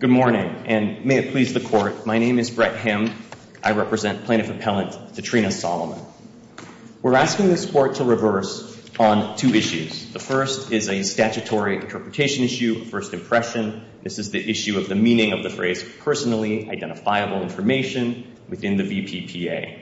Good morning, and may it please the Court, my name is Brett Hemd. I represent Plaintiff Appellant Tatrina Solomon. We're asking this Court to reverse on two issues. The first is a statutory interpretation issue, first impression. This is the issue of the meaning of the phrase personally identifiable information within the VPPA.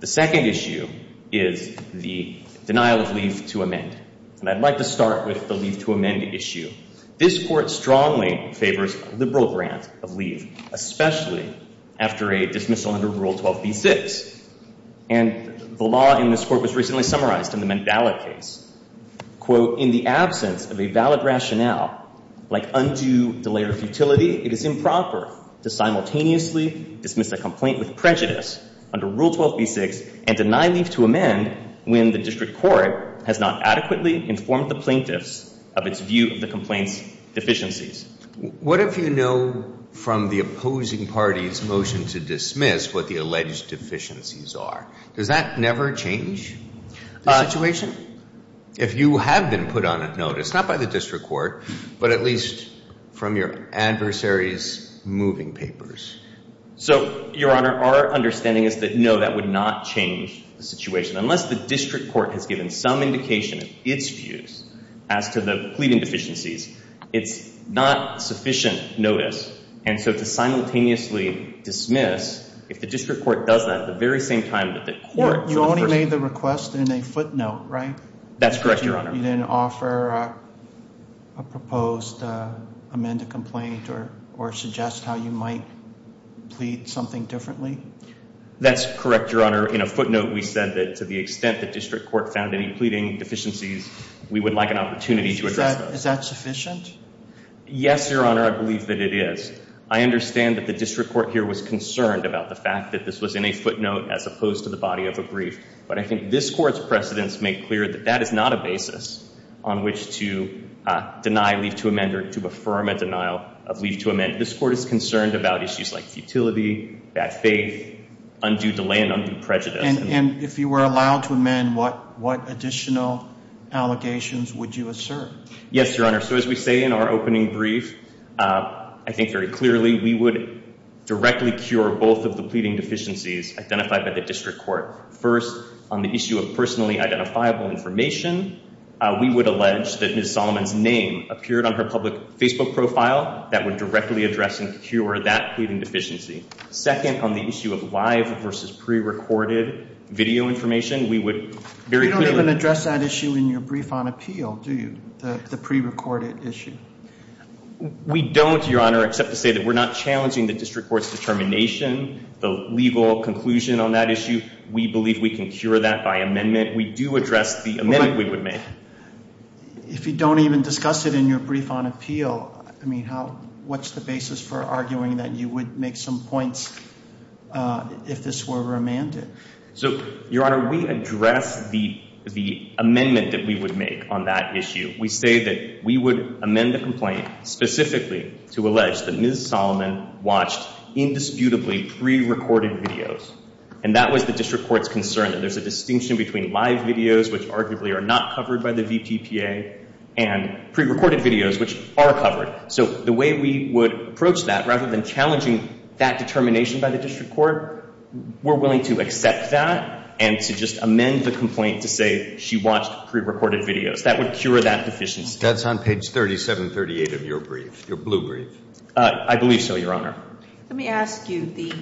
The second issue is the denial of leave to amend. And I'd like to start with the leave to amend issue. This Court strongly favors a liberal grant of leave, especially after a dismissal under Rule 12b-6. And the law in this Court was recently summarized in the Mandela case. Quote, in the absence of a valid rationale, like undue delay or futility, it is improper to simultaneously dismiss a complaint with prejudice under Rule 12b-6 and deny leave to amend when the district court has not adequately informed the plaintiffs of its view of the complaint's deficiencies. What if you know from the opposing party's motion to dismiss what the alleged deficiencies are? Does that never change the situation? If you have been put on notice, not by the district court, but at least from your adversary's moving papers? So, Your Honor, our understanding is that no, that would not change the situation. Unless the district court has given some indication of its views as to the pleading deficiencies, it's not sufficient notice. And so to simultaneously dismiss, if the district court does that at the very same time that the court... You only made the request in a footnote, right? That's correct, Your Honor. You then offer a proposed amended complaint or suggest how you might plead something differently? That's correct, Your Honor. In a footnote, we said that to the extent the district court found any pleading deficiencies, we would like an opportunity to address those. Is that sufficient? Yes, Your Honor, I believe that it is. I understand that the district court here was concerned about the fact that this was in a footnote as opposed to the body of a brief. But I think this court's precedents make clear that that is not a basis on which to deny leave to amend or to affirm a denial of leave to amend. This court is concerned about issues like futility, bad faith, undue delay, and undue prejudice. And if you were allowed to amend, what additional allegations would you assert? Yes, Your Honor. So as we say in our opening brief, I think very clearly, we would directly cure both of the pleading deficiencies identified by the district court. First, on the issue of personally identifiable information, we would allege that Ms. Solomon's name appeared on her public Facebook profile. That would directly address and cure that pleading deficiency. Second, on the issue of live versus prerecorded video information, we would very clearly You don't even address that issue in your brief on appeal, do you? The prerecorded issue. We don't, Your Honor, except to say that we're not challenging the district court's determination, the legal conclusion on that issue. We believe we can cure that by amendment. We do address the amendment we would make. If you don't even discuss it in your brief on appeal, I mean, what's the basis for arguing that you would make some points if this were remanded? So, Your Honor, we address the amendment that we would make on that issue. We say that we would amend the complaint specifically to allege that Ms. Solomon watched indisputably prerecorded videos. And that was the district court's concern that there's a distinction between live videos, which arguably are not covered by the VPPA, and prerecorded videos, which are covered. So, the way we would approach that, rather than challenging that determination by the district court, we're willing to accept that and to just amend the complaint to say she watched prerecorded videos. That would cure that deficiency. That's on page 3738 of your brief, your blue brief. I believe so, Your Honor. Let me ask you, the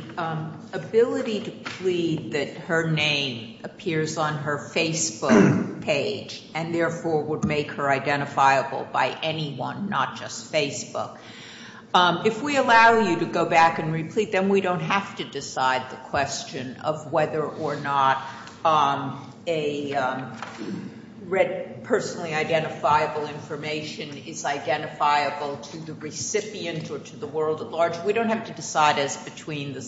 ability to plead that her name appears on her Facebook page and, therefore, would make her identifiable by anyone, not just Facebook. If we allow you to go back and replete, then we don't have to decide the question of whether or not a personally identifiable information is identifiable to the recipient or to the world at large. We don't have to decide which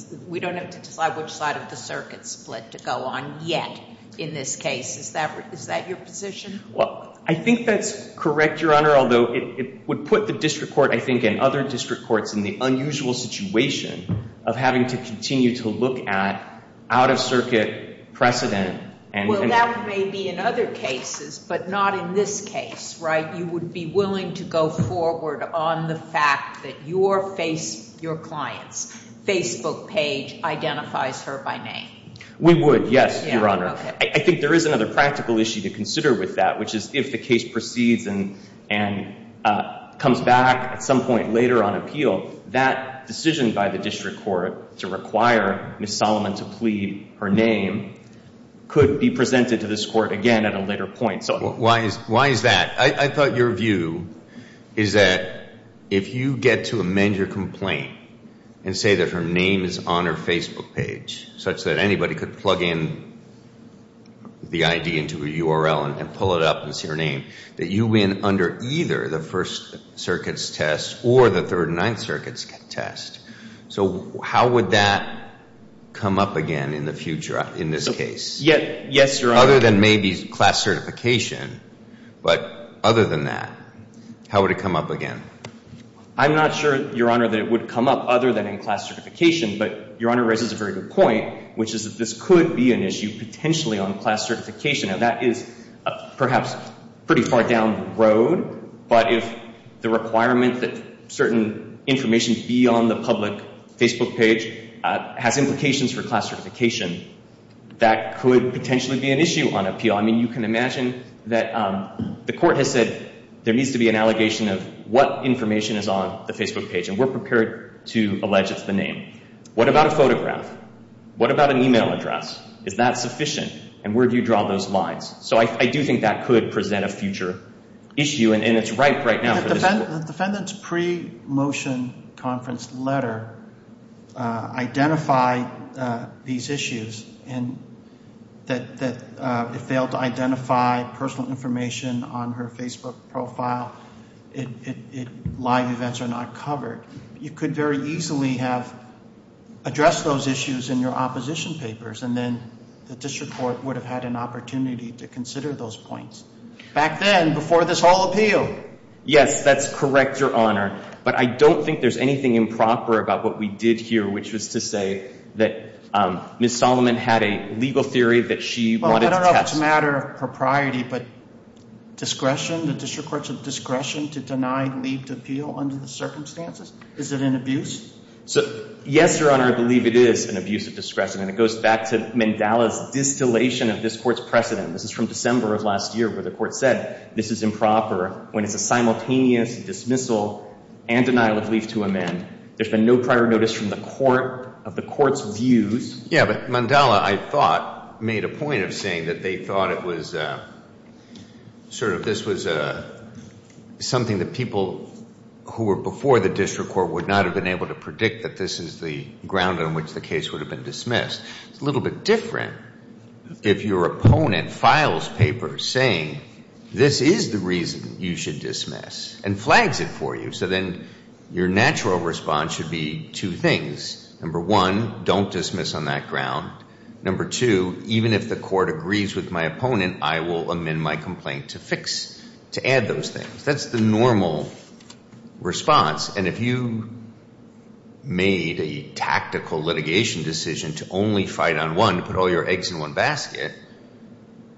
side of the circuit split to go on yet in this case. Is that your position? Well, I think that's correct, Your Honor, although it would put the district court, I think, and other district courts in the unusual situation of having to continue to look at out-of-circuit precedent. Well, that may be in other cases, but not in this case, right? You would be willing to go forward on the fact that your client's Facebook page identifies her by name? We would, yes, Your Honor. I think there is another practical issue to consider with that, which is if the case proceeds and comes back at some point later on appeal, that decision by the district court to require Ms. Solomon to plead her name could be presented to this court again at a later point. Why is that? I thought your view is that if you get to amend your complaint and say that her name is on her Facebook page, such that anybody could plug in the ID into a URL and pull it up and see her name, that you win under either the First Circuit's test or the Third and Ninth Circuit's test. So how would that come up again in the future in this case? Yes, Your Honor. Other than maybe class certification, but other than that, how would it come up again? I'm not sure, Your Honor, that it would come up other than in class certification. But Your Honor raises a very good point, which is that this could be an issue potentially on class certification. Now, that is perhaps pretty far down the road. But if the requirement that certain information be on the public Facebook page has implications for class certification, that could potentially be an issue on appeal. I mean, you can imagine that the court has said there needs to be an allegation of what information is on the Facebook page, and we're prepared to allege it's the name. What about a photograph? What about an e-mail address? Is that sufficient? And where do you draw those lines? So I do think that could present a future issue, and it's ripe right now for this court. The defendant's pre-motion conference letter identified these issues, and that it failed to identify personal information on her Facebook profile. Live events are not covered. You could very easily have addressed those issues in your opposition papers, and then the district court would have had an opportunity to consider those points back then before this whole appeal. Yes, that's correct, Your Honor. But I don't think there's anything improper about what we did here, which was to say that Ms. Solomon had a legal theory that she wanted to test. Well, I don't know if it's a matter of propriety, but discretion? The district court said discretion to deny leave to appeal under the circumstances? Is it an abuse? Yes, Your Honor. I believe it is an abuse of discretion. And it goes back to Mandela's distillation of this court's precedent. This is from December of last year where the court said this is improper when it's a simultaneous dismissal and denial of leave to amend. There's been no prior notice from the court of the court's views. Yeah, but Mandela, I thought, made a point of saying that they thought it was sort of this was something that people who were before the district court would not have been able to predict that this is the ground on which the case would have been dismissed. It's a little bit different if your opponent files paper saying this is the reason you should dismiss and flags it for you, so then your natural response should be two things. Number one, don't dismiss on that ground. Number two, even if the court agrees with my opponent, I will amend my complaint to fix, to add those things. That's the normal response. And if you made a tactical litigation decision to only fight on one, to put all your eggs in one basket,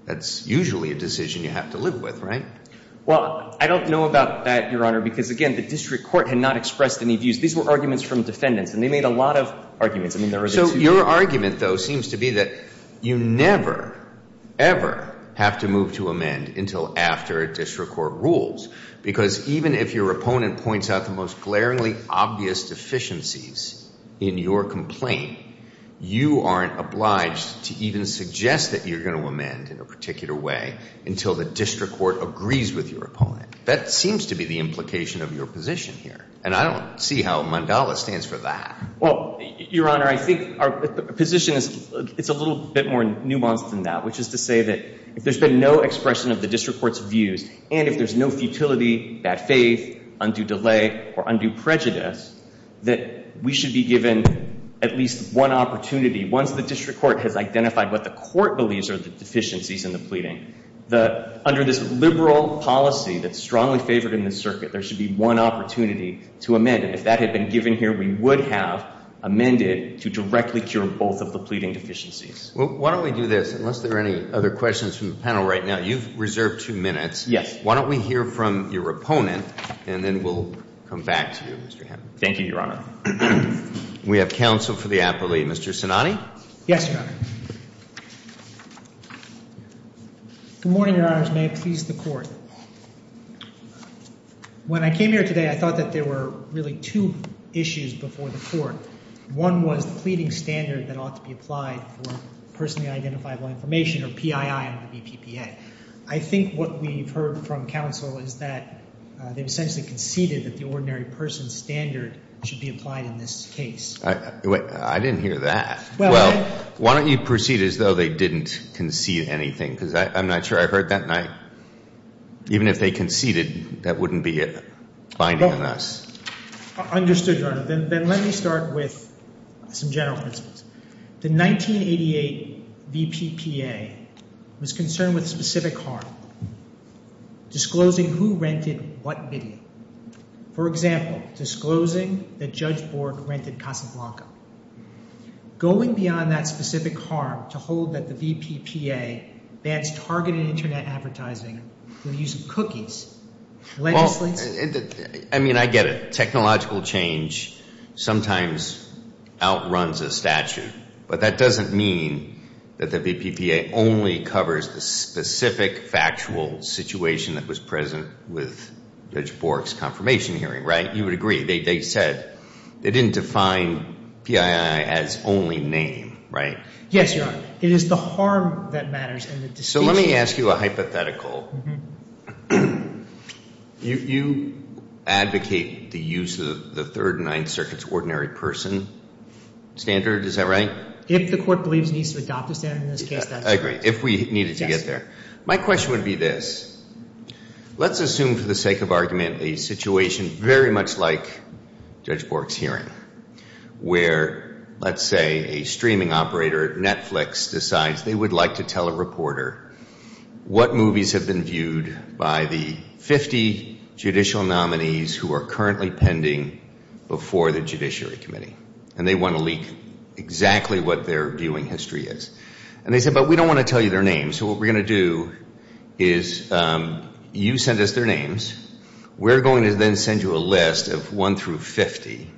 that's usually a decision you have to live with, right? Well, I don't know about that, Your Honor, because, again, the district court had not expressed any views. These were arguments from defendants, and they made a lot of arguments. So your argument, though, seems to be that you never, ever have to move to amend until after a district court rules because even if your opponent points out the most glaringly obvious deficiencies in your complaint, you aren't obliged to even suggest that you're going to amend in a particular way until the district court agrees with your opponent. That seems to be the implication of your position here, and I don't see how Mandala stands for that. Well, Your Honor, I think our position is a little bit more nuanced than that, which is to say that if there's been no expression of the district court's views and if there's no futility, bad faith, undue delay, or undue prejudice, that we should be given at least one opportunity once the district court has identified what the court believes are the deficiencies in the pleading. Under this liberal policy that's strongly favored in this circuit, there should be one opportunity to amend. If that had been given here, we would have amended to directly cure both of the pleading deficiencies. Well, why don't we do this? Unless there are any other questions from the panel right now, you've reserved two minutes. Yes. Why don't we hear from your opponent, and then we'll come back to you, Mr. Hammond. Thank you, Your Honor. We have counsel for the applee. Mr. Sinani? Yes, Your Honor. Good morning, Your Honors. May it please the Court. When I came here today, I thought that there were really two issues before the Court. One was the pleading standard that ought to be applied for personally identifiable information, or PII on the BPPA. I think what we've heard from counsel is that they've essentially conceded that the ordinary person standard should be applied in this case. I didn't hear that. Well, why don't you proceed as though they didn't concede anything, because I'm not sure I heard that. Even if they conceded, that wouldn't be binding on us. Understood, Your Honor. Then let me start with some general principles. The 1988 BPPA was concerned with a specific harm, disclosing who rented what video. For example, disclosing that Judge Bork rented Casablanca. Going beyond that specific harm to hold that the BPPA bans targeted Internet advertising through the use of cookies, legislates— I mean, I get it. Technological change sometimes outruns a statute. But that doesn't mean that the BPPA only covers the specific factual situation that was present with Judge Bork's confirmation hearing, right? You would agree. They said they didn't define PII as only name, right? Yes, Your Honor. It is the harm that matters and the disclosure. So let me ask you a hypothetical. You advocate the use of the Third and Ninth Circuit's ordinary person standard, is that right? If the court believes it needs to adopt a standard in this case, that's right. I agree. If we needed to get there. My question would be this. Let's assume for the sake of argument a situation very much like Judge Bork's hearing, where, let's say, a streaming operator, Netflix, decides they would like to tell a reporter what movies have been viewed by the 50 judicial nominees who are currently pending before the Judiciary Committee. And they want to leak exactly what their viewing history is. And they say, but we don't want to tell you their names. So what we're going to do is you send us their names. We're going to then send you a list of 1 through 50.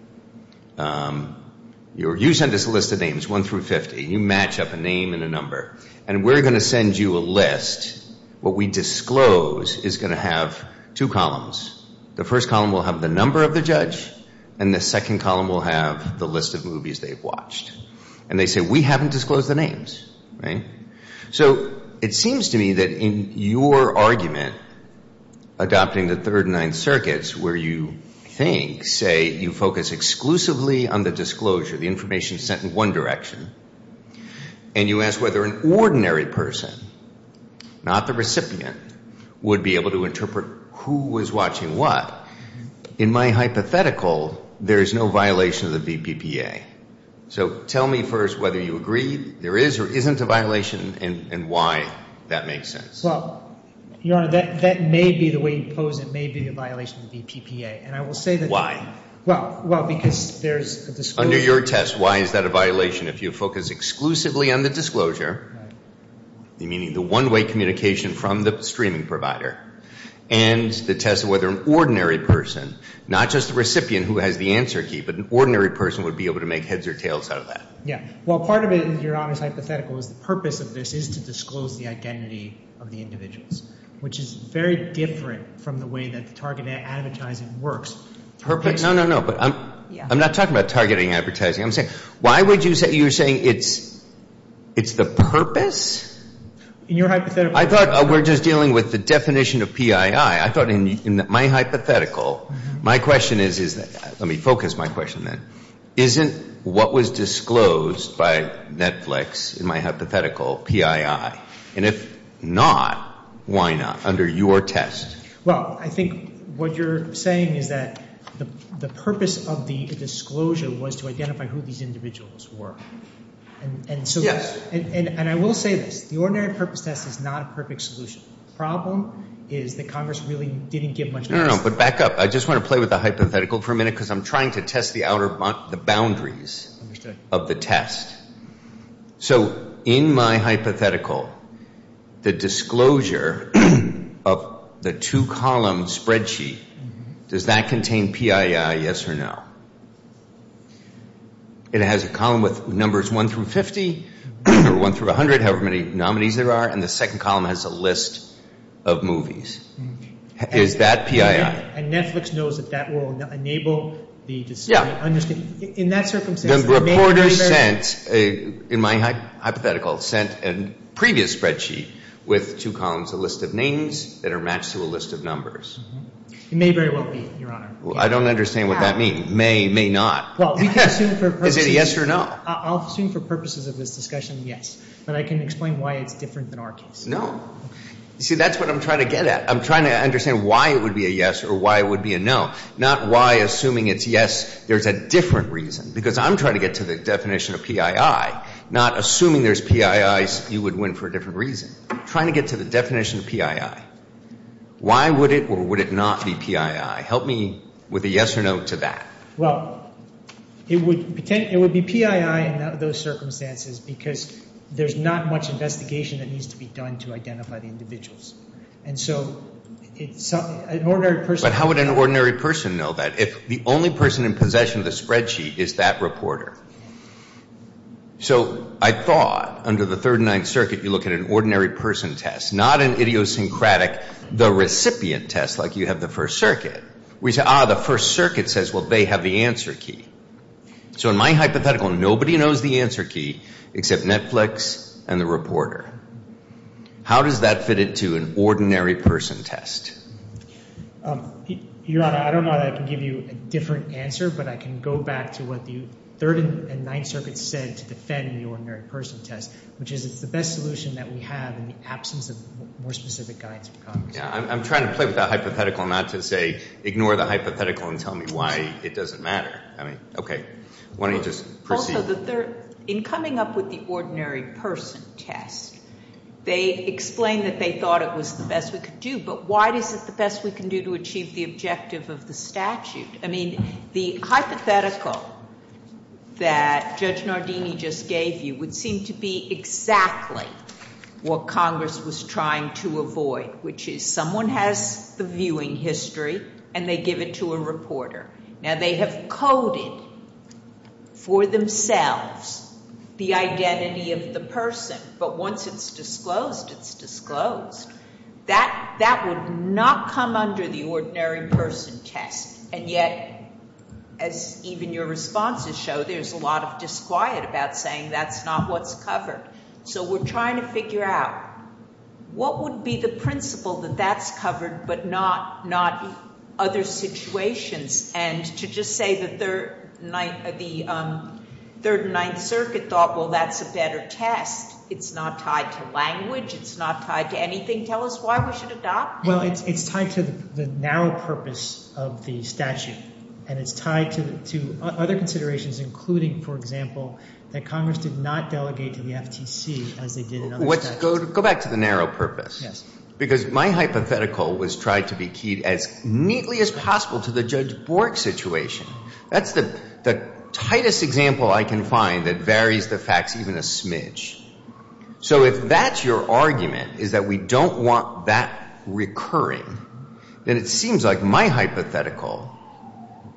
You send us a list of names, 1 through 50. You match up a name and a number. And we're going to send you a list. What we disclose is going to have two columns. The first column will have the number of the judge, and the second column will have the list of movies they've watched. And they say, we haven't disclosed the names, right? So it seems to me that in your argument, adopting the Third and Ninth Circuits, where you think, say, you focus exclusively on the disclosure, the information sent in one direction, and you ask whether an ordinary person, not the recipient, would be able to interpret who was watching what, in my hypothetical, there is no violation of the VPPA. So tell me first whether you agree there is or isn't a violation and why that makes sense. Well, Your Honor, that may be the way you pose it. It may be a violation of the VPPA. Why? Well, because there's a disclosure. Under your test, why is that a violation? If you focus exclusively on the disclosure, meaning the one-way communication from the streaming provider, and the test of whether an ordinary person, not just the recipient who has the answer key, but an ordinary person would be able to make heads or tails out of that. Yeah. Well, part of it, Your Honor's hypothetical, is the purpose of this is to disclose the identity of the individuals, which is very different from the way that the targeted advertising works. Purpose? No, no, no. But I'm not talking about targeting advertising. I'm saying why would you say you're saying it's the purpose? In your hypothetical. I thought we're just dealing with the definition of PII. I thought in my hypothetical, my question is, let me focus my question then. Isn't what was disclosed by Netflix, in my hypothetical, PII? And if not, why not? Under your test. Well, I think what you're saying is that the purpose of the disclosure was to identify who these individuals were. Yes. And I will say this. The ordinary purpose test is not a perfect solution. The problem is that Congress really didn't give much notice. No, no, no. But back up. I just want to play with the hypothetical for a minute because I'm trying to test the boundaries of the test. So in my hypothetical, the disclosure of the two-column spreadsheet, does that contain PII, yes or no? It has a column with numbers 1 through 50 or 1 through 100, however many nominees there are, and the second column has a list of movies. Is that PII? And Netflix knows that that will enable the disclosure. Yeah. In that circumstance, it may very well be. The reporter sent, in my hypothetical, sent a previous spreadsheet with two columns, a list of names that are matched to a list of numbers. It may very well be, Your Honor. I don't understand what that means, may, may not. Well, we can assume for purposes. Is it a yes or no? I'll assume for purposes of this discussion, yes. But I can explain why it's different than our case. No. You see, that's what I'm trying to get at. I'm trying to understand why it would be a yes or why it would be a no, not why, assuming it's yes, there's a different reason. Because I'm trying to get to the definition of PII, not assuming there's PIIs you would win for a different reason. I'm trying to get to the definition of PII. Why would it or would it not be PII? Help me with a yes or no to that. Well, it would be PII in those circumstances because there's not much investigation that needs to be done to identify the individuals. And so an ordinary person. But how would an ordinary person know that if the only person in possession of the spreadsheet is that reporter? So I thought under the Third and Ninth Circuit you look at an ordinary person test, not an idiosyncratic, the recipient test like you have the First Circuit. We say, ah, the First Circuit says, well, they have the answer key. So in my hypothetical, nobody knows the answer key except Netflix and the reporter. How does that fit into an ordinary person test? Your Honor, I don't know that I can give you a different answer, but I can go back to what the Third and Ninth Circuit said to defend the ordinary person test, which is it's the best solution that we have in the absence of more specific guidance from Congress. I'm trying to play with that hypothetical not to say ignore the hypothetical and tell me why it doesn't matter. I mean, okay. Why don't you just proceed? In coming up with the ordinary person test, they explained that they thought it was the best we could do, but why is it the best we can do to achieve the objective of the statute? I mean, the hypothetical that Judge Nardini just gave you would seem to be exactly what Congress was trying to avoid, which is someone has the viewing history and they give it to a reporter. Now, they have coded for themselves the identity of the person, but once it's disclosed, it's disclosed. That would not come under the ordinary person test. And yet, as even your responses show, there's a lot of disquiet about saying that's not what's covered. So we're trying to figure out what would be the principle that that's covered but not other situations, and to just say that the Third and Ninth Circuit thought, well, that's a better test. It's not tied to language. It's not tied to anything. Tell us why we should adopt it. Well, it's tied to the narrow purpose of the statute, and it's tied to other considerations, including, for example, that Congress did not delegate to the FTC as they did in other statutes. Go back to the narrow purpose. Yes. Because my hypothetical was tried to be keyed as neatly as possible to the Judge Bork situation. That's the tightest example I can find that varies the facts even a smidge. So if that's your argument, is that we don't want that recurring, then it seems like my hypothetical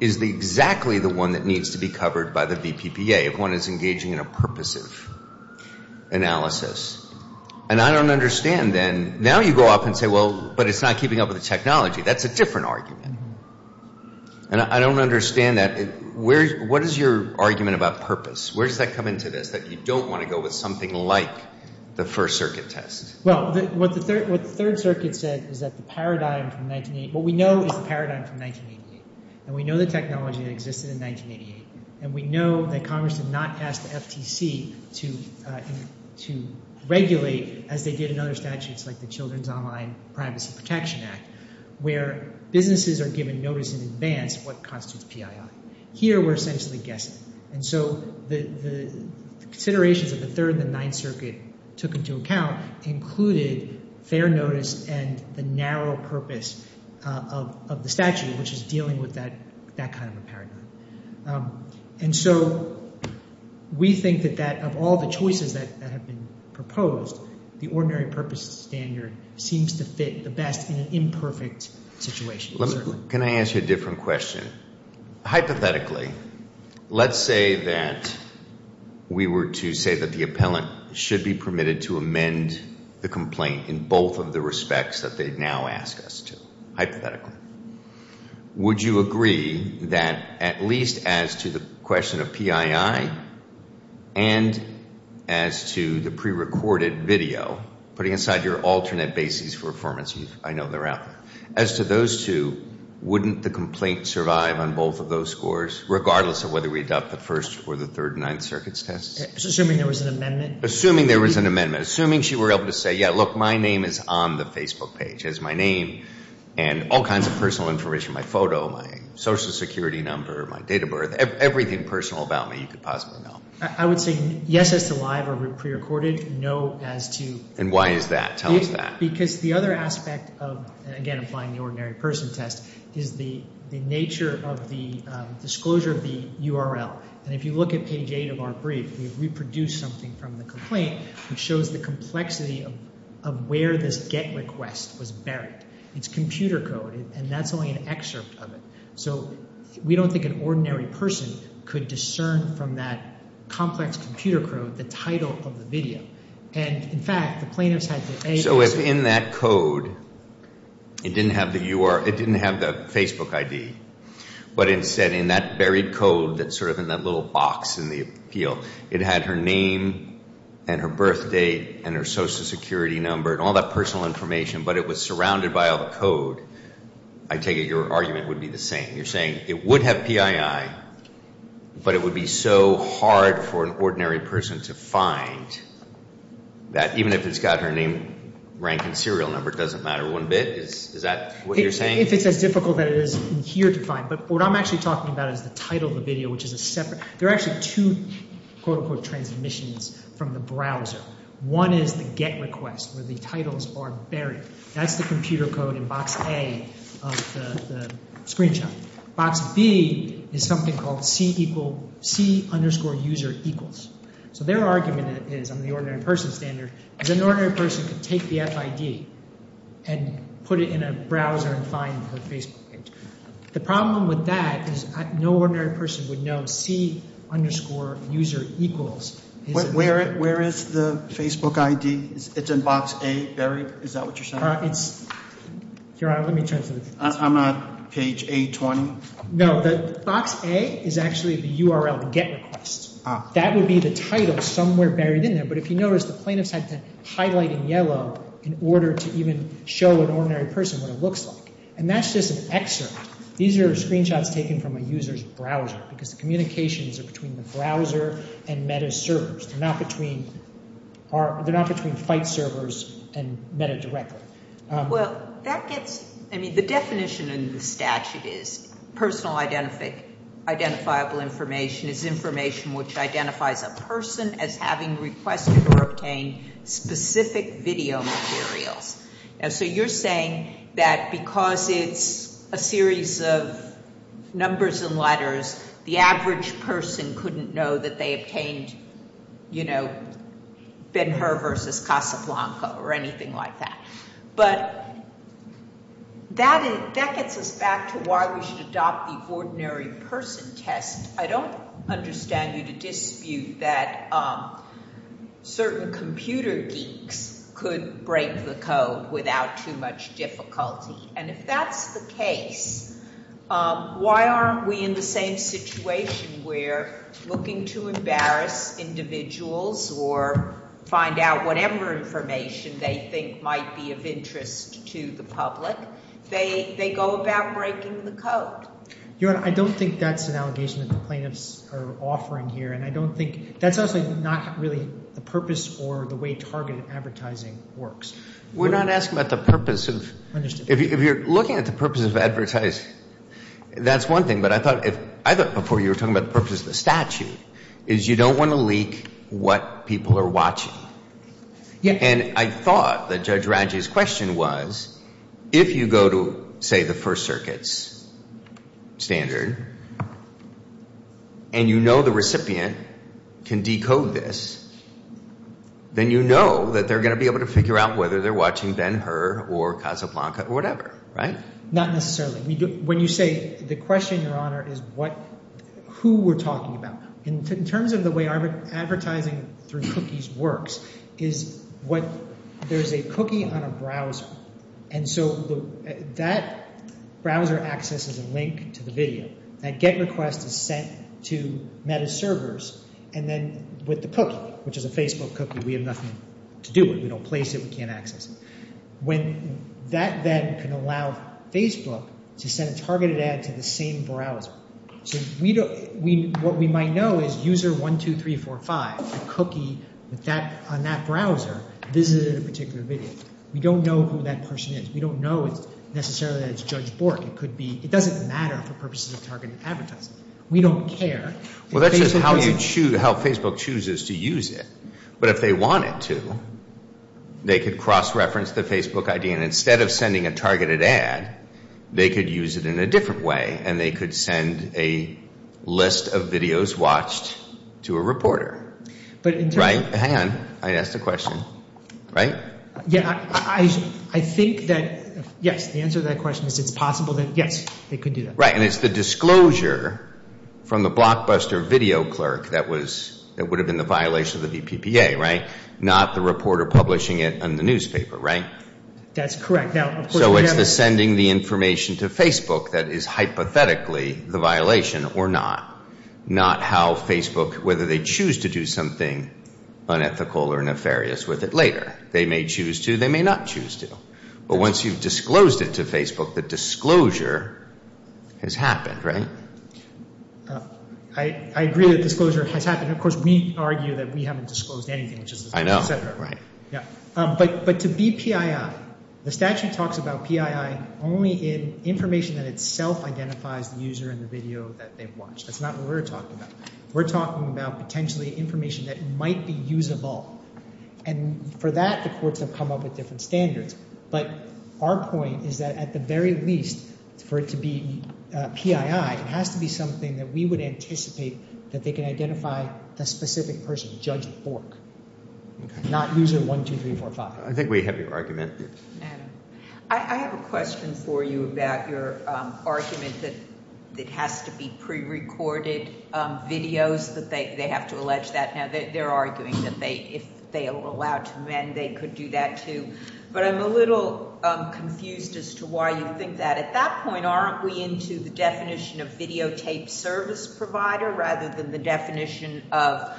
is exactly the one that needs to be covered by the VPPA if one is engaging in a purposive analysis. And I don't understand, then. Now you go up and say, well, but it's not keeping up with the technology. That's a different argument. And I don't understand that. What is your argument about purpose? Where does that come into this, that you don't want to go with something like the First Circuit test? Well, what the Third Circuit said is that the paradigm from 1988 – what we know is the paradigm from 1988, and we know the technology that existed in 1988, and we know that Congress did not ask the FTC to regulate as they did in other statutes, like the Children's Online Privacy Protection Act, where businesses are given notice in advance of what constitutes PII. Here we're essentially guessing. And so the considerations of the Third and the Ninth Circuit took into account included fair notice and the narrow purpose of the statute, which is dealing with that kind of a paradigm. And so we think that of all the choices that have been proposed, the ordinary purpose standard seems to fit the best in an imperfect situation, certainly. Can I ask you a different question? Hypothetically, let's say that we were to say that the appellant should be permitted to amend the complaint in both of the respects that they now ask us to, hypothetically. Would you agree that at least as to the question of PII and as to the prerecorded video, putting aside your alternate bases for affirmation, I know they're out there, as to those two, wouldn't the complaint survive on both of those scores, regardless of whether we adopt the First or the Third and Ninth Circuit's tests? Assuming there was an amendment? Assuming there was an amendment. Assuming she were able to say, yeah, look, my name is on the Facebook page. It has my name and all kinds of personal information, my photo, my Social Security number, my date of birth, everything personal about me you could possibly know. I would say yes as to live or prerecorded, no as to... And why is that? Tell us that. Because the other aspect of, again, applying the ordinary person test, is the nature of the disclosure of the URL. And if you look at page 8 of our brief, we've reproduced something from the complaint which shows the complexity of where this GET request was buried. It's computer code, and that's only an excerpt of it. So we don't think an ordinary person could discern from that complex computer code the title of the video. And, in fact, the plaintiffs had to... So if in that code it didn't have the Facebook ID, but instead in that buried code that's sort of in that little box in the appeal, it had her name and her birth date and her Social Security number and all that personal information, but it was surrounded by all the code, I take it your argument would be the same. You're saying it would have PII, but it would be so hard for an ordinary person to find that, even if it's got her name, rank, and serial number, it doesn't matter one bit? Is that what you're saying? If it's as difficult as it is in here to find. But what I'm actually talking about is the title of the video, which is a separate... There are actually two, quote-unquote, transmissions from the browser. One is the GET request where the titles are buried. That's the computer code in box A of the screenshot. Box B is something called C underscore user equals. So their argument is, on the ordinary person standard, is an ordinary person could take the FID and put it in a browser and find her Facebook page. The problem with that is no ordinary person would know C underscore user equals. Where is the Facebook ID? It's in box A, buried. Is that what you're saying? Your Honor, let me turn to the... I'm on page A20. No, the box A is actually the URL, the GET request. That would be the title somewhere buried in there. But if you notice, the plaintiffs had to highlight in yellow in order to even show an ordinary person what it looks like. And that's just an excerpt. These are screenshots taken from a user's browser because the communications are between the browser and MetaService. They're not between fight servers and Meta directly. Well, that gets... I mean, the definition in the statute is personal identifiable information is information which identifies a person as having requested or obtained specific video materials. And so you're saying that because it's a series of numbers and letters, the average person couldn't know that they obtained, you know, Ben-Hur versus Casablanca or anything like that. But that gets us back to why we should adopt the ordinary person test. I don't understand you to dispute that certain computer geeks could break the code without too much difficulty. And if that's the case, why aren't we in the same situation where looking to embarrass individuals or find out whatever information they think might be of interest to the public, they go about breaking the code? Your Honor, I don't think that's an allegation that the plaintiffs are offering here. And I don't think that's also not really the purpose or the way targeted advertising works. We're not asking about the purpose of... If you're looking at the purpose of advertising, that's one thing. But I thought before you were talking about the purpose of the statute is you don't want to leak what people are watching. And I thought that Judge Radji's question was if you go to, say, the First Circuit's standard and you know the recipient can decode this, then you know that they're going to be able to figure out whether they're watching Ben-Hur or Casablanca or whatever, right? Not necessarily. When you say the question, Your Honor, is who we're talking about. In terms of the way advertising through cookies works is what there's a cookie on a browser. And so that browser accesses a link to the video. That GET request is sent to MetaServers. And then with the cookie, which is a Facebook cookie, we have nothing to do with it. We don't place it. We can't access it. That then can allow Facebook to send a targeted ad to the same browser. So what we might know is user 1, 2, 3, 4, 5. The cookie on that browser visited a particular video. We don't know who that person is. We don't know necessarily that it's Judge Bork. It doesn't matter for purposes of targeted advertising. We don't care. Well, that's just how Facebook chooses to use it. But if they wanted to, they could cross-reference the Facebook ID. And instead of sending a targeted ad, they could use it in a different way. And they could send a list of videos watched to a reporter. Hang on. I asked a question. Right? Yeah, I think that, yes, the answer to that question is it's possible that, yes, they could do that. Right, and it's the disclosure from the blockbuster video clerk that would have been the violation of the VPPA, right? Not the reporter publishing it in the newspaper, right? That's correct. So it's the sending the information to Facebook that is hypothetically the violation or not. Not how Facebook, whether they choose to do something unethical or nefarious with it later. They may choose to. They may not choose to. But once you've disclosed it to Facebook, the disclosure has happened, right? I agree that disclosure has happened. Of course, we argue that we haven't disclosed anything. I know. But to be PII, the statute talks about PII only in information that itself identifies the user in the video that they've watched. That's not what we're talking about. We're talking about potentially information that might be usable. And for that, the courts have come up with different standards. But our point is that at the very least, for it to be PII, it has to be something that we would anticipate that they can identify the specific person, Judge Bork, not user 1, 2, 3, 4, 5. I think we have your argument. I have a question for you about your argument that it has to be prerecorded videos, that they have to allege that. Now, they're arguing that if they were allowed to mend, they could do that, too. But I'm a little confused as to why you think that. At that point, aren't we into the definition of videotape service provider rather than the definition of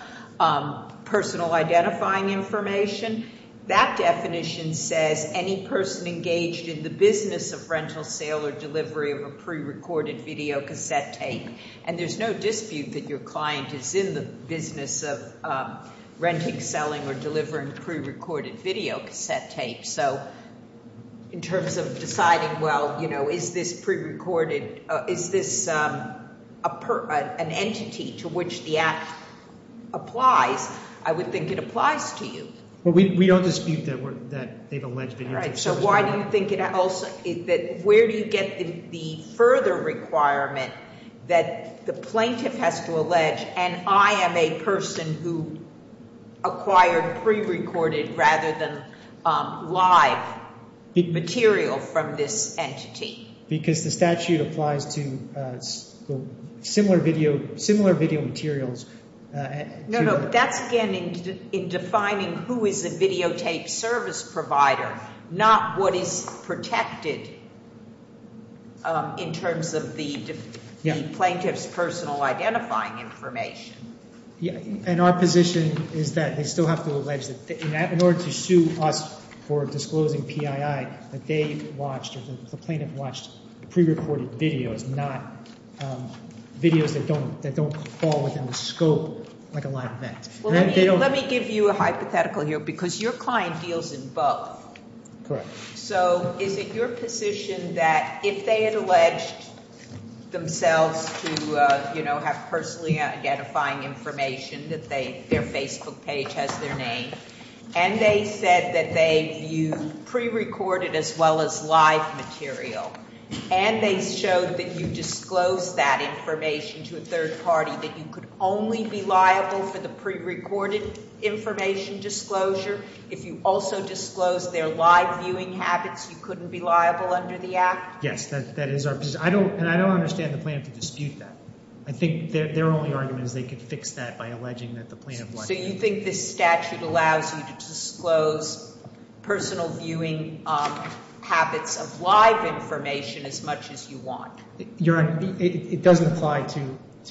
personal identifying information? That definition says any person engaged in the business of rental sale or delivery of a prerecorded videocassette tape. And there's no dispute that your client is in the business of renting, selling, or delivering prerecorded videocassette tape. So in terms of deciding, well, you know, is this prerecorded? Is this an entity to which the Act applies? I would think it applies to you. Well, we don't dispute that they've alleged videotape service provider. All right, so why do you think it also – where do you get the further requirement that the plaintiff has to allege, and I am a person who acquired prerecorded rather than live material from this entity? Because the statute applies to similar video materials. No, no, that's again in defining who is a videotape service provider, not what is protected in terms of the plaintiff's personal identifying information. And our position is that they still have to allege that in order to sue us for disclosing PII, that they've watched or the plaintiff watched prerecorded videos, not videos that don't fall within the scope like a live event. Well, let me give you a hypothetical here because your client deals in both. Correct. So is it your position that if they had alleged themselves to, you know, have personally identifying information that their Facebook page has their name, and they said that they viewed prerecorded as well as live material, and they showed that you disclosed that information to a third party, that you could only be liable for the prerecorded information disclosure? If you also disclosed their live viewing habits, you couldn't be liable under the act? Yes, that is our position, and I don't understand the plaintiff to dispute that. I think their only argument is they could fix that by alleging that the plaintiff watched it. So you think this statute allows you to disclose personal viewing habits of live information as much as you want? Your Honor, it doesn't apply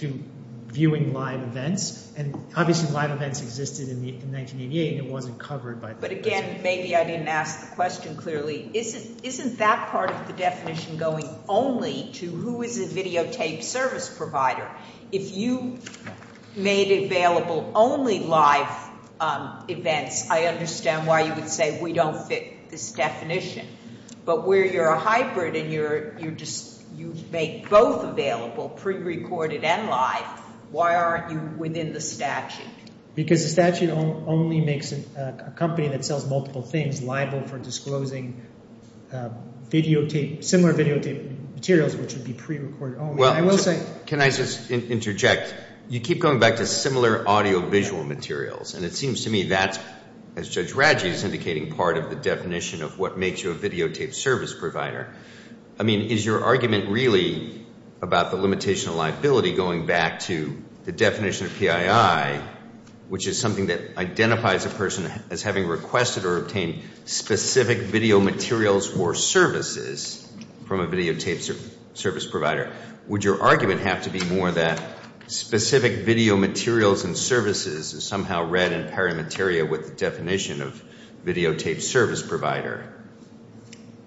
to viewing live events, and obviously live events existed in 1988 and it wasn't covered by the statute. But again, maybe I didn't ask the question clearly. Isn't that part of the definition going only to who is a videotaped service provider? If you made available only live events, I understand why you would say we don't fit this definition. But where you're a hybrid and you make both available, prerecorded and live, why aren't you within the statute? Because the statute only makes a company that sells multiple things liable for disclosing similar videotaped materials, which would be prerecorded only. Well, can I just interject? You keep going back to similar audiovisual materials, and it seems to me that's, as Judge Radji is indicating, part of the definition of what makes you a videotaped service provider. I mean, is your argument really about the limitation of liability going back to the definition of PII, which is something that identifies a person as having requested or obtained specific video materials or services from a videotaped service provider? Would your argument have to be more that specific video materials and services is somehow read in pari materia with the definition of videotaped service provider?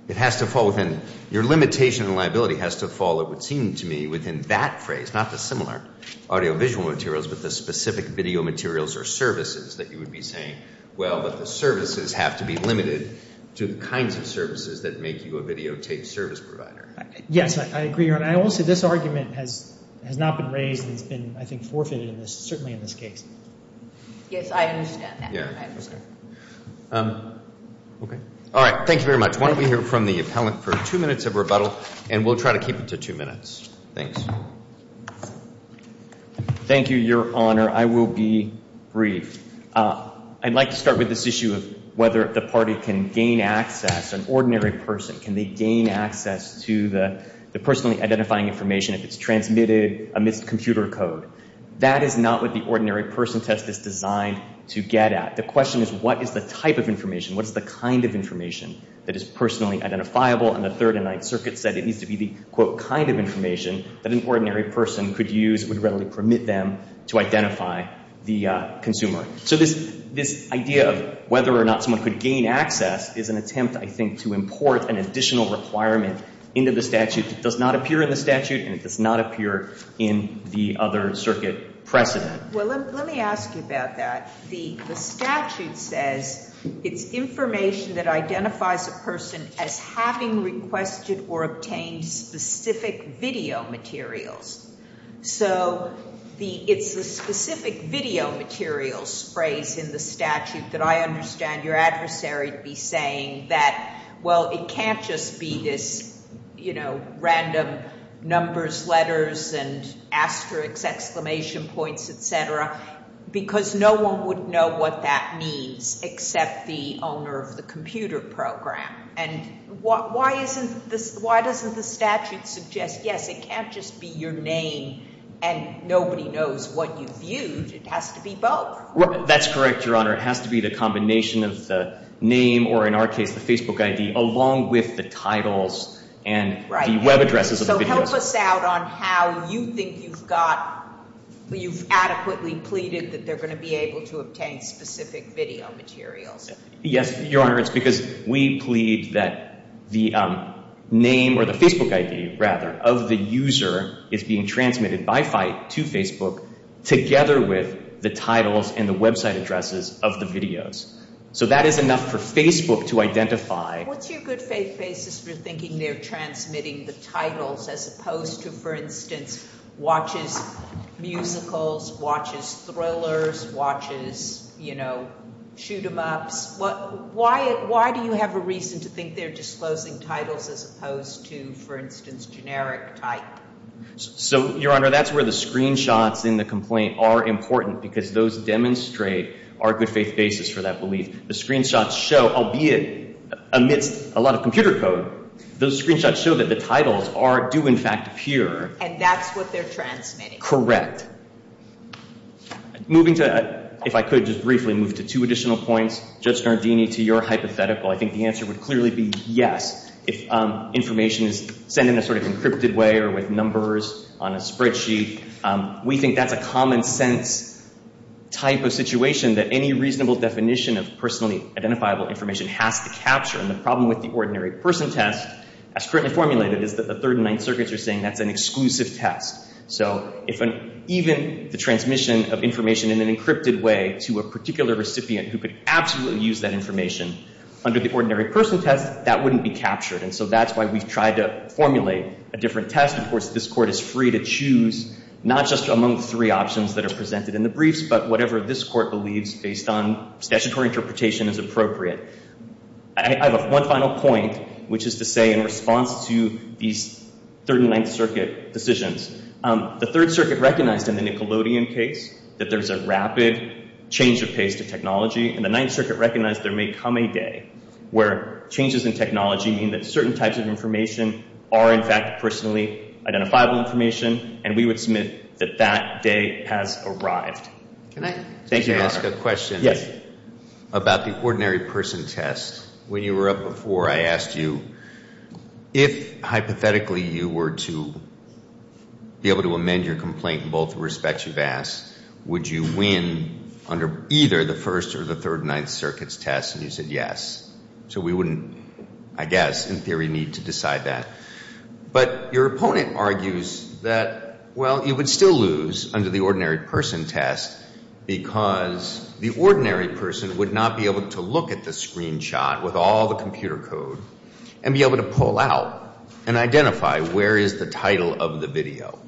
It has to fall within, your limitation of liability has to fall, it would seem to me, within that phrase, not the similar audiovisual materials, but the specific video materials or services that you would be saying, well, but the services have to be limited to the kinds of services that make you a videotaped service provider. Yes, I agree, Your Honor. I also, this argument has not been raised and has been, I think, forfeited in this, certainly in this case. Yes, I understand that. Yeah. I understand. Okay. All right, thank you very much. Why don't we hear from the appellant for two minutes of rebuttal, and we'll try to keep it to two minutes. Thanks. Thank you, Your Honor. I will be brief. I'd like to start with this issue of whether the party can gain access, an ordinary person, can they gain access to the personally identifying information if it's transmitted amidst computer code. That is not what the ordinary person test is designed to get at. The question is what is the type of information, what is the kind of information that is personally identifiable, and the Third and Ninth Circuit said it needs to be the, quote, kind of information that an ordinary person could use that would readily permit them to identify the consumer. So this idea of whether or not someone could gain access is an attempt, I think, to import an additional requirement into the statute that does not appear in the statute and it does not appear in the other circuit precedent. Well, let me ask you about that. The statute says it's information that identifies a person as having requested or obtained specific video materials. So it's the specific video materials phrase in the statute that I understand your adversary to be saying that, well, it can't just be this, you know, random numbers, letters, and asterisks, exclamation points, et cetera, because no one would know what that means except the owner of the computer program. And why doesn't the statute suggest, yes, it can't just be your name and nobody knows what you viewed. It has to be both. That's correct, Your Honor. It has to be the combination of the name or, in our case, the Facebook ID, along with the titles and the web addresses of the videos. So help us out on how you think you've adequately pleaded that they're going to be able to obtain specific video materials. Yes, Your Honor, it's because we plead that the name or the Facebook ID, rather, of the user is being transmitted by FITE to Facebook together with the titles and the website addresses of the videos. So that is enough for Facebook to identify. What's your good faith basis for thinking they're transmitting the titles as opposed to, for instance, watches musicals, watches thrillers, watches shoot-em-ups? Why do you have a reason to think they're disclosing titles as opposed to, for instance, generic type? So, Your Honor, that's where the screenshots in the complaint are important because those demonstrate our good faith basis for that belief. The screenshots show, albeit amidst a lot of computer code, those screenshots show that the titles do, in fact, appear. And that's what they're transmitting. Correct. Moving to, if I could just briefly move to two additional points, Judge Nardini, to your hypothetical, I think the answer would clearly be yes if information is sent in a sort of encrypted way or with numbers on a spreadsheet. We think that's a common sense type of situation that any reasonable definition of personally identifiable information has to capture. And the problem with the ordinary person test, as currently formulated, is that the Third and Ninth Circuits are saying that's an exclusive test. So even the transmission of information in an encrypted way to a particular recipient who could absolutely use that information under the ordinary person test, that wouldn't be captured. And so that's why we've tried to formulate a different test. Of course, this Court is free to choose not just among the three options that are presented in the briefs, but whatever this Court believes based on statutory interpretation is appropriate. I have one final point, which is to say in response to these Third and Ninth Circuit decisions, the Third Circuit recognized in the Nickelodeon case that there's a rapid change of pace to technology, and the Ninth Circuit recognized there may come a day where changes in technology mean that certain types of information are, in fact, personally identifiable information, and we would submit that that day has arrived. Can I ask a question about the ordinary person test? When you were up before, I asked you if hypothetically you were to be able to amend your complaint in both respects you've asked, would you win under either the First or the Third and Ninth Circuits test? And you said yes. So we wouldn't, I guess, in theory, need to decide that. But your opponent argues that, well, you would still lose under the ordinary person test because the ordinary person would not be able to look at the screenshot with all the computer code and be able to pull out and identify where is the title of the video.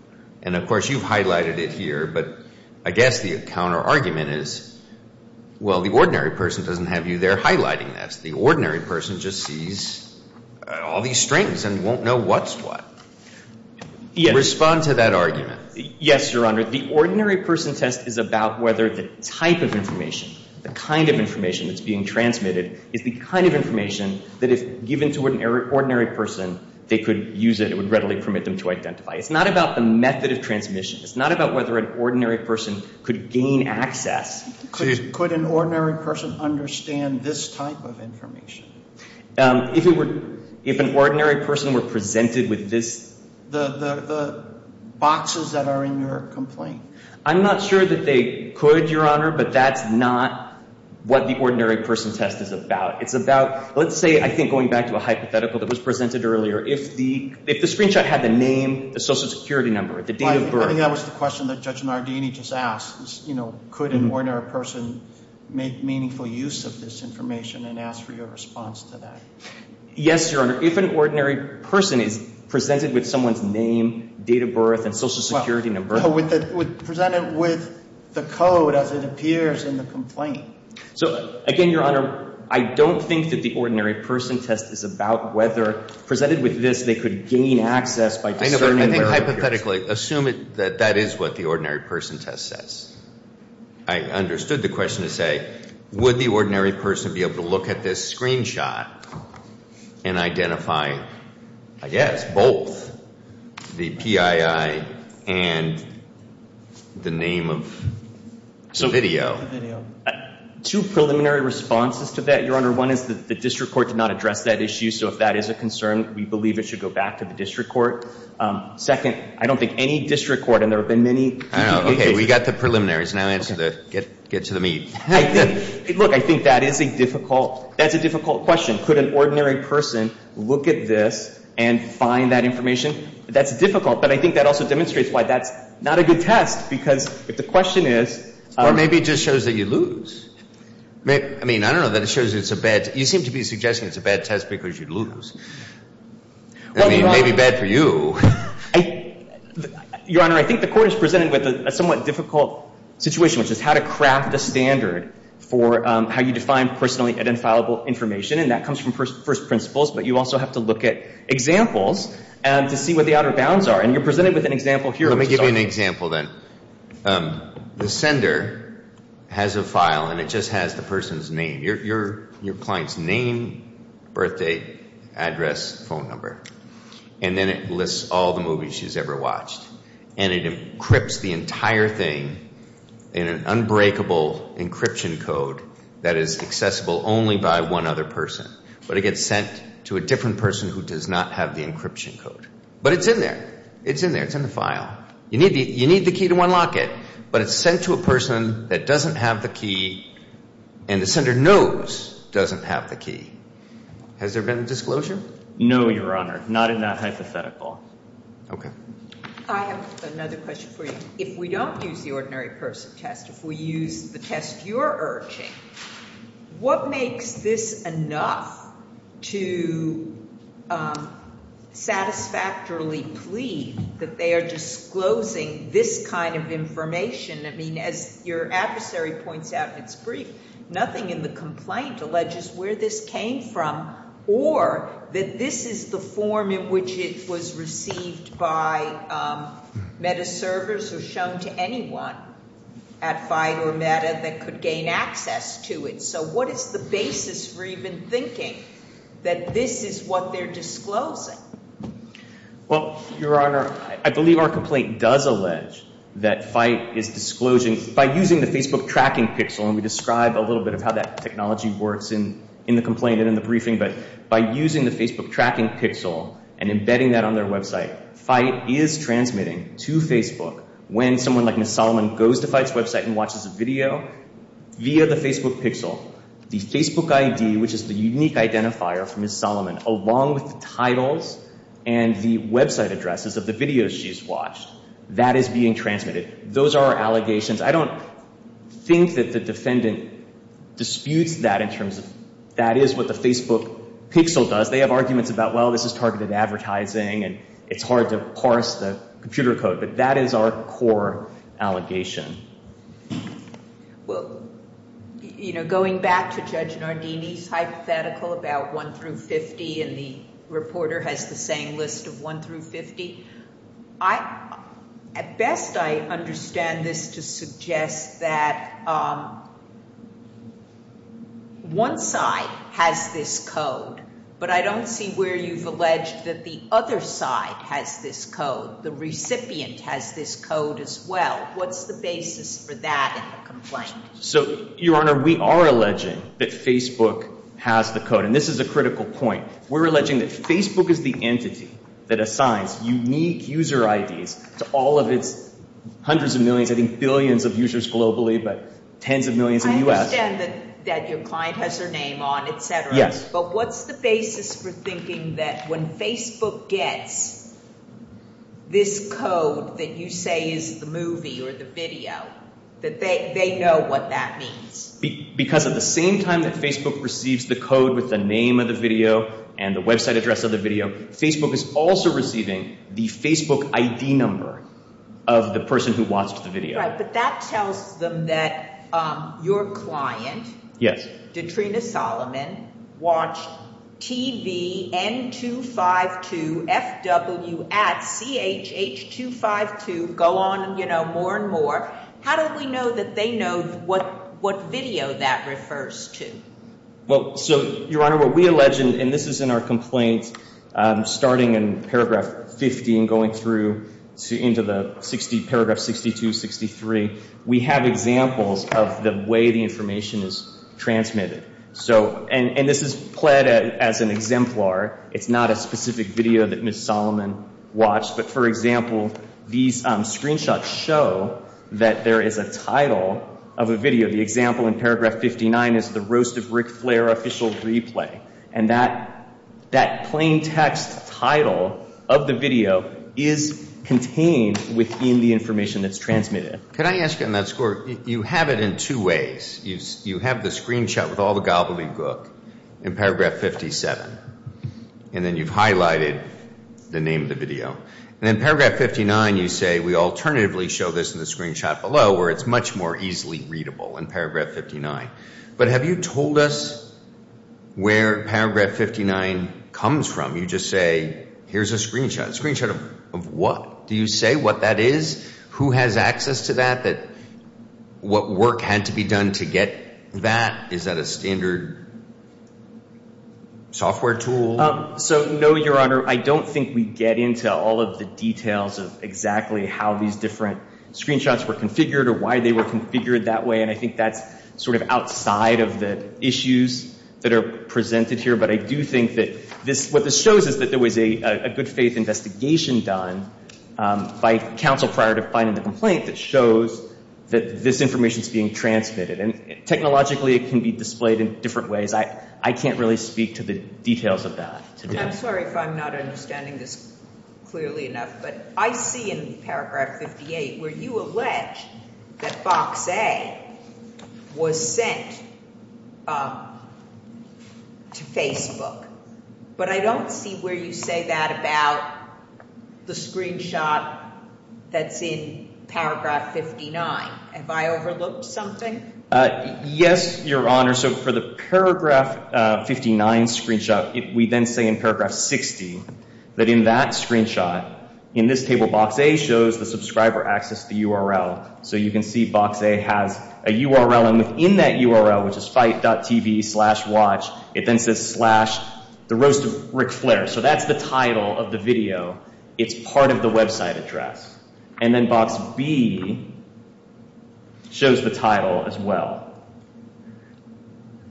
And, of course, you've highlighted it here, but I guess the counterargument is, well, the ordinary person doesn't have you there highlighting this. The ordinary person just sees all these strings and won't know what's what. Respond to that argument. Yes, Your Honor. The ordinary person test is about whether the type of information, the kind of information that's being transmitted is the kind of information that if given to an ordinary person, they could use it, it would readily permit them to identify. It's not about the method of transmission. It's not about whether an ordinary person could gain access. Could an ordinary person understand this type of information? If an ordinary person were presented with this. The boxes that are in your complaint. I'm not sure that they could, Your Honor, but that's not what the ordinary person test is about. It's about, let's say, I think going back to a hypothetical that was presented earlier, if the screenshot had the name, the social security number, the date of birth. I think that was the question that Judge Nardini just asked. Could an ordinary person make meaningful use of this information and ask for your response to that? Yes, Your Honor. If an ordinary person is presented with someone's name, date of birth, and social security number. Presented with the code as it appears in the complaint. So, again, Your Honor, I don't think that the ordinary person test is about whether presented with this, they could gain access by discerning where it appears. Hypothetically, assume that that is what the ordinary person test says. I understood the question to say, would the ordinary person be able to look at this screenshot and identify, I guess, both the PII and the name of the video? Two preliminary responses to that, Your Honor. One is that the district court did not address that issue. So if that is a concern, we believe it should go back to the district court. Second, I don't think any district court, and there have been many cases. Okay, we got the preliminaries. Now answer the, get to the meat. Look, I think that is a difficult, that's a difficult question. Could an ordinary person look at this and find that information? That's difficult, but I think that also demonstrates why that's not a good test, because if the question is. Or maybe it just shows that you lose. I mean, I don't know that it shows it's a bad, you seem to be suggesting it's a bad test because you lose. I mean, it may be bad for you. Your Honor, I think the court is presented with a somewhat difficult situation, which is how to craft a standard for how you define personally identifiable information. And that comes from first principles. But you also have to look at examples to see what the outer bounds are. And you're presented with an example here. Let me give you an example then. The sender has a file, and it just has the person's name. Your client's name, birthdate, address, phone number. And then it lists all the movies she's ever watched. And it encrypts the entire thing in an unbreakable encryption code that is accessible only by one other person. But it gets sent to a different person who does not have the encryption code. But it's in there. It's in there. It's in the file. You need the key to unlock it. But it's sent to a person that doesn't have the key, and the sender knows doesn't have the key. Has there been a disclosure? No, Your Honor. Not in that hypothetical. Okay. I have another question for you. If we don't use the ordinary person test, if we use the test you're urging, what makes this enough to satisfactorily plead that they are disclosing this kind of information? I mean, as your adversary points out in its brief, nothing in the complaint alleges where this came from or that this is the form in which it was received by META servers or shown to anyone at FITE or META that could gain access to it. So what is the basis for even thinking that this is what they're disclosing? Well, Your Honor, I believe our complaint does allege that FITE is disclosing, by using the Facebook tracking pixel, and we describe a little bit of how that technology works in the complaint and in the briefing, but by using the Facebook tracking pixel and embedding that on their website, FITE is transmitting to Facebook when someone like Ms. Solomon goes to FITE's website and watches a video via the Facebook pixel, the Facebook ID, which is the unique identifier for Ms. Solomon, along with the titles and the website addresses of the videos she's watched, that is being transmitted. Those are our allegations. I don't think that the defendant disputes that in terms of that is what the Facebook pixel does. They have arguments about, well, this is targeted advertising and it's hard to parse the computer code, but that is our core allegation. Well, you know, going back to Judge Nardini's hypothetical about 1 through 50 and the reporter has the same list of 1 through 50, at best I understand this to suggest that one side has this code, but I don't see where you've alleged that the other side has this code. The recipient has this code as well. What's the basis for that in the complaint? So, Your Honor, we are alleging that Facebook has the code, and this is a critical point. We're alleging that Facebook is the entity that assigns unique user IDs to all of its hundreds of millions, I think billions of users globally, but tens of millions in the U.S. I understand that your client has her name on, et cetera. Yes. But what's the basis for thinking that when Facebook gets this code that you say is the movie or the video, that they know what that means? Because at the same time that Facebook receives the code with the name of the video and the website address of the video, Facebook is also receiving the Facebook ID number of the person who watched the video. Right, but that tells them that your client, Detrina Solomon, watched TVN252FW at CHH252 go on, you know, more and more. How do we know that they know what video that refers to? Well, so, Your Honor, what we allege, and this is in our complaint, starting in paragraph 50 and going through into the 60, paragraph 62, 63, we have examples of the way the information is transmitted. So, and this is pled as an exemplar. It's not a specific video that Ms. Solomon watched. But, for example, these screenshots show that there is a title of a video. The example in paragraph 59 is The Roast of Ric Flair Official Replay. And that plain text title of the video is contained within the information that's transmitted. Could I ask you on that score, you have it in two ways. You have the screenshot with all the gobbledygook in paragraph 57, and then you've highlighted the name of the video. And in paragraph 59, you say, we alternatively show this in the screenshot below where it's much more easily readable in paragraph 59. But have you told us where paragraph 59 comes from? You just say, here's a screenshot. A screenshot of what? Do you say what that is? Who has access to that? What work had to be done to get that? Is that a standard software tool? So, no, Your Honor. I don't think we get into all of the details of exactly how these different screenshots were configured or why they were configured that way. And I think that's sort of outside of the issues that are presented here. But I do think that what this shows is that there was a good faith investigation done by counsel prior to finding the complaint that shows that this information is being transmitted. And technologically, it can be displayed in different ways. I can't really speak to the details of that today. I'm sorry if I'm not understanding this clearly enough, but I see in paragraph 58 where you allege that Box A was sent to Facebook. But I don't see where you say that about the screenshot that's in paragraph 59. Have I overlooked something? Yes, Your Honor. So for the paragraph 59 screenshot, we then say in paragraph 60 that in that screenshot, in this table Box A shows the subscriber access to the URL. So you can see Box A has a URL, and within that URL, which is fight.tv slash watch, it then says slash the roast of Ric Flair. So that's the title of the video. It's part of the website address. And then Box B shows the title as well.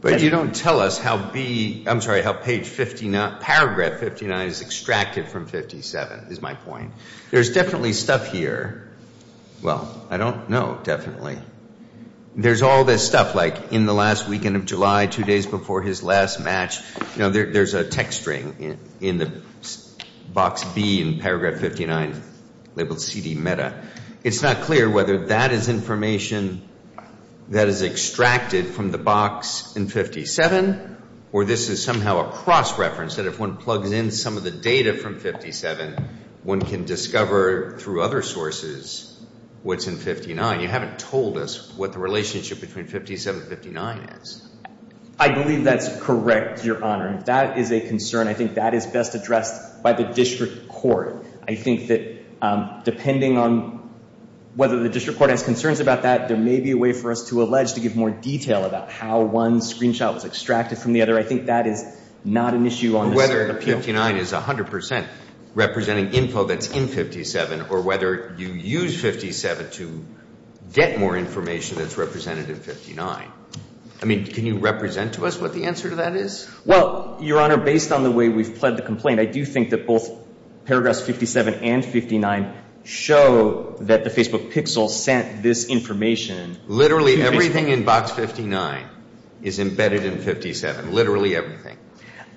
But you don't tell us how B, I'm sorry, how paragraph 59 is extracted from 57 is my point. There's definitely stuff here. Well, I don't know definitely. There's all this stuff like in the last weekend of July, two days before his last match. There's a text string in Box B in paragraph 59 labeled CD meta. It's not clear whether that is information that is extracted from the box in 57 or this is somehow a cross-reference that if one plugs in some of the data from 57, one can discover through other sources what's in 59. You haven't told us what the relationship between 57 and 59 is. I believe that's correct, Your Honor. That is a concern. I think that is best addressed by the district court. I think that depending on whether the district court has concerns about that, there may be a way for us to allege to give more detail about how one screenshot was extracted from the other. I think that is not an issue on this Court of Appeal. Whether 59 is 100% representing info that's in 57 or whether you use 57 to get more information that's represented in 59. I mean, can you represent to us what the answer to that is? Well, Your Honor, based on the way we've pled the complaint, I do think that both paragraphs 57 and 59 show that the Facebook pixel sent this information. Literally everything in Box 59 is embedded in 57, literally everything.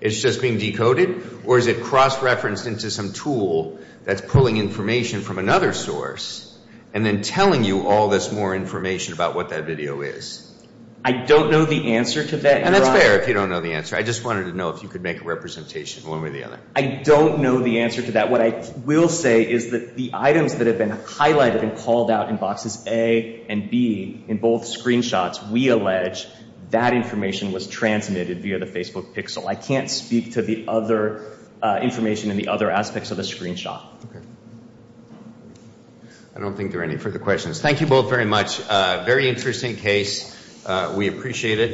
It's just being decoded or is it cross-referenced into some tool that's pulling information from another source and then telling you all this more information about what that video is. I don't know the answer to that, Your Honor. And that's fair if you don't know the answer. I just wanted to know if you could make a representation one way or the other. I don't know the answer to that. What I will say is that the items that have been highlighted and called out in Boxes A and B in both screenshots, we allege that information was transmitted via the Facebook pixel. I can't speak to the other information in the other aspects of the screenshot. Okay. I don't think there are any further questions. Thank you both very much. Very interesting case. We appreciate it.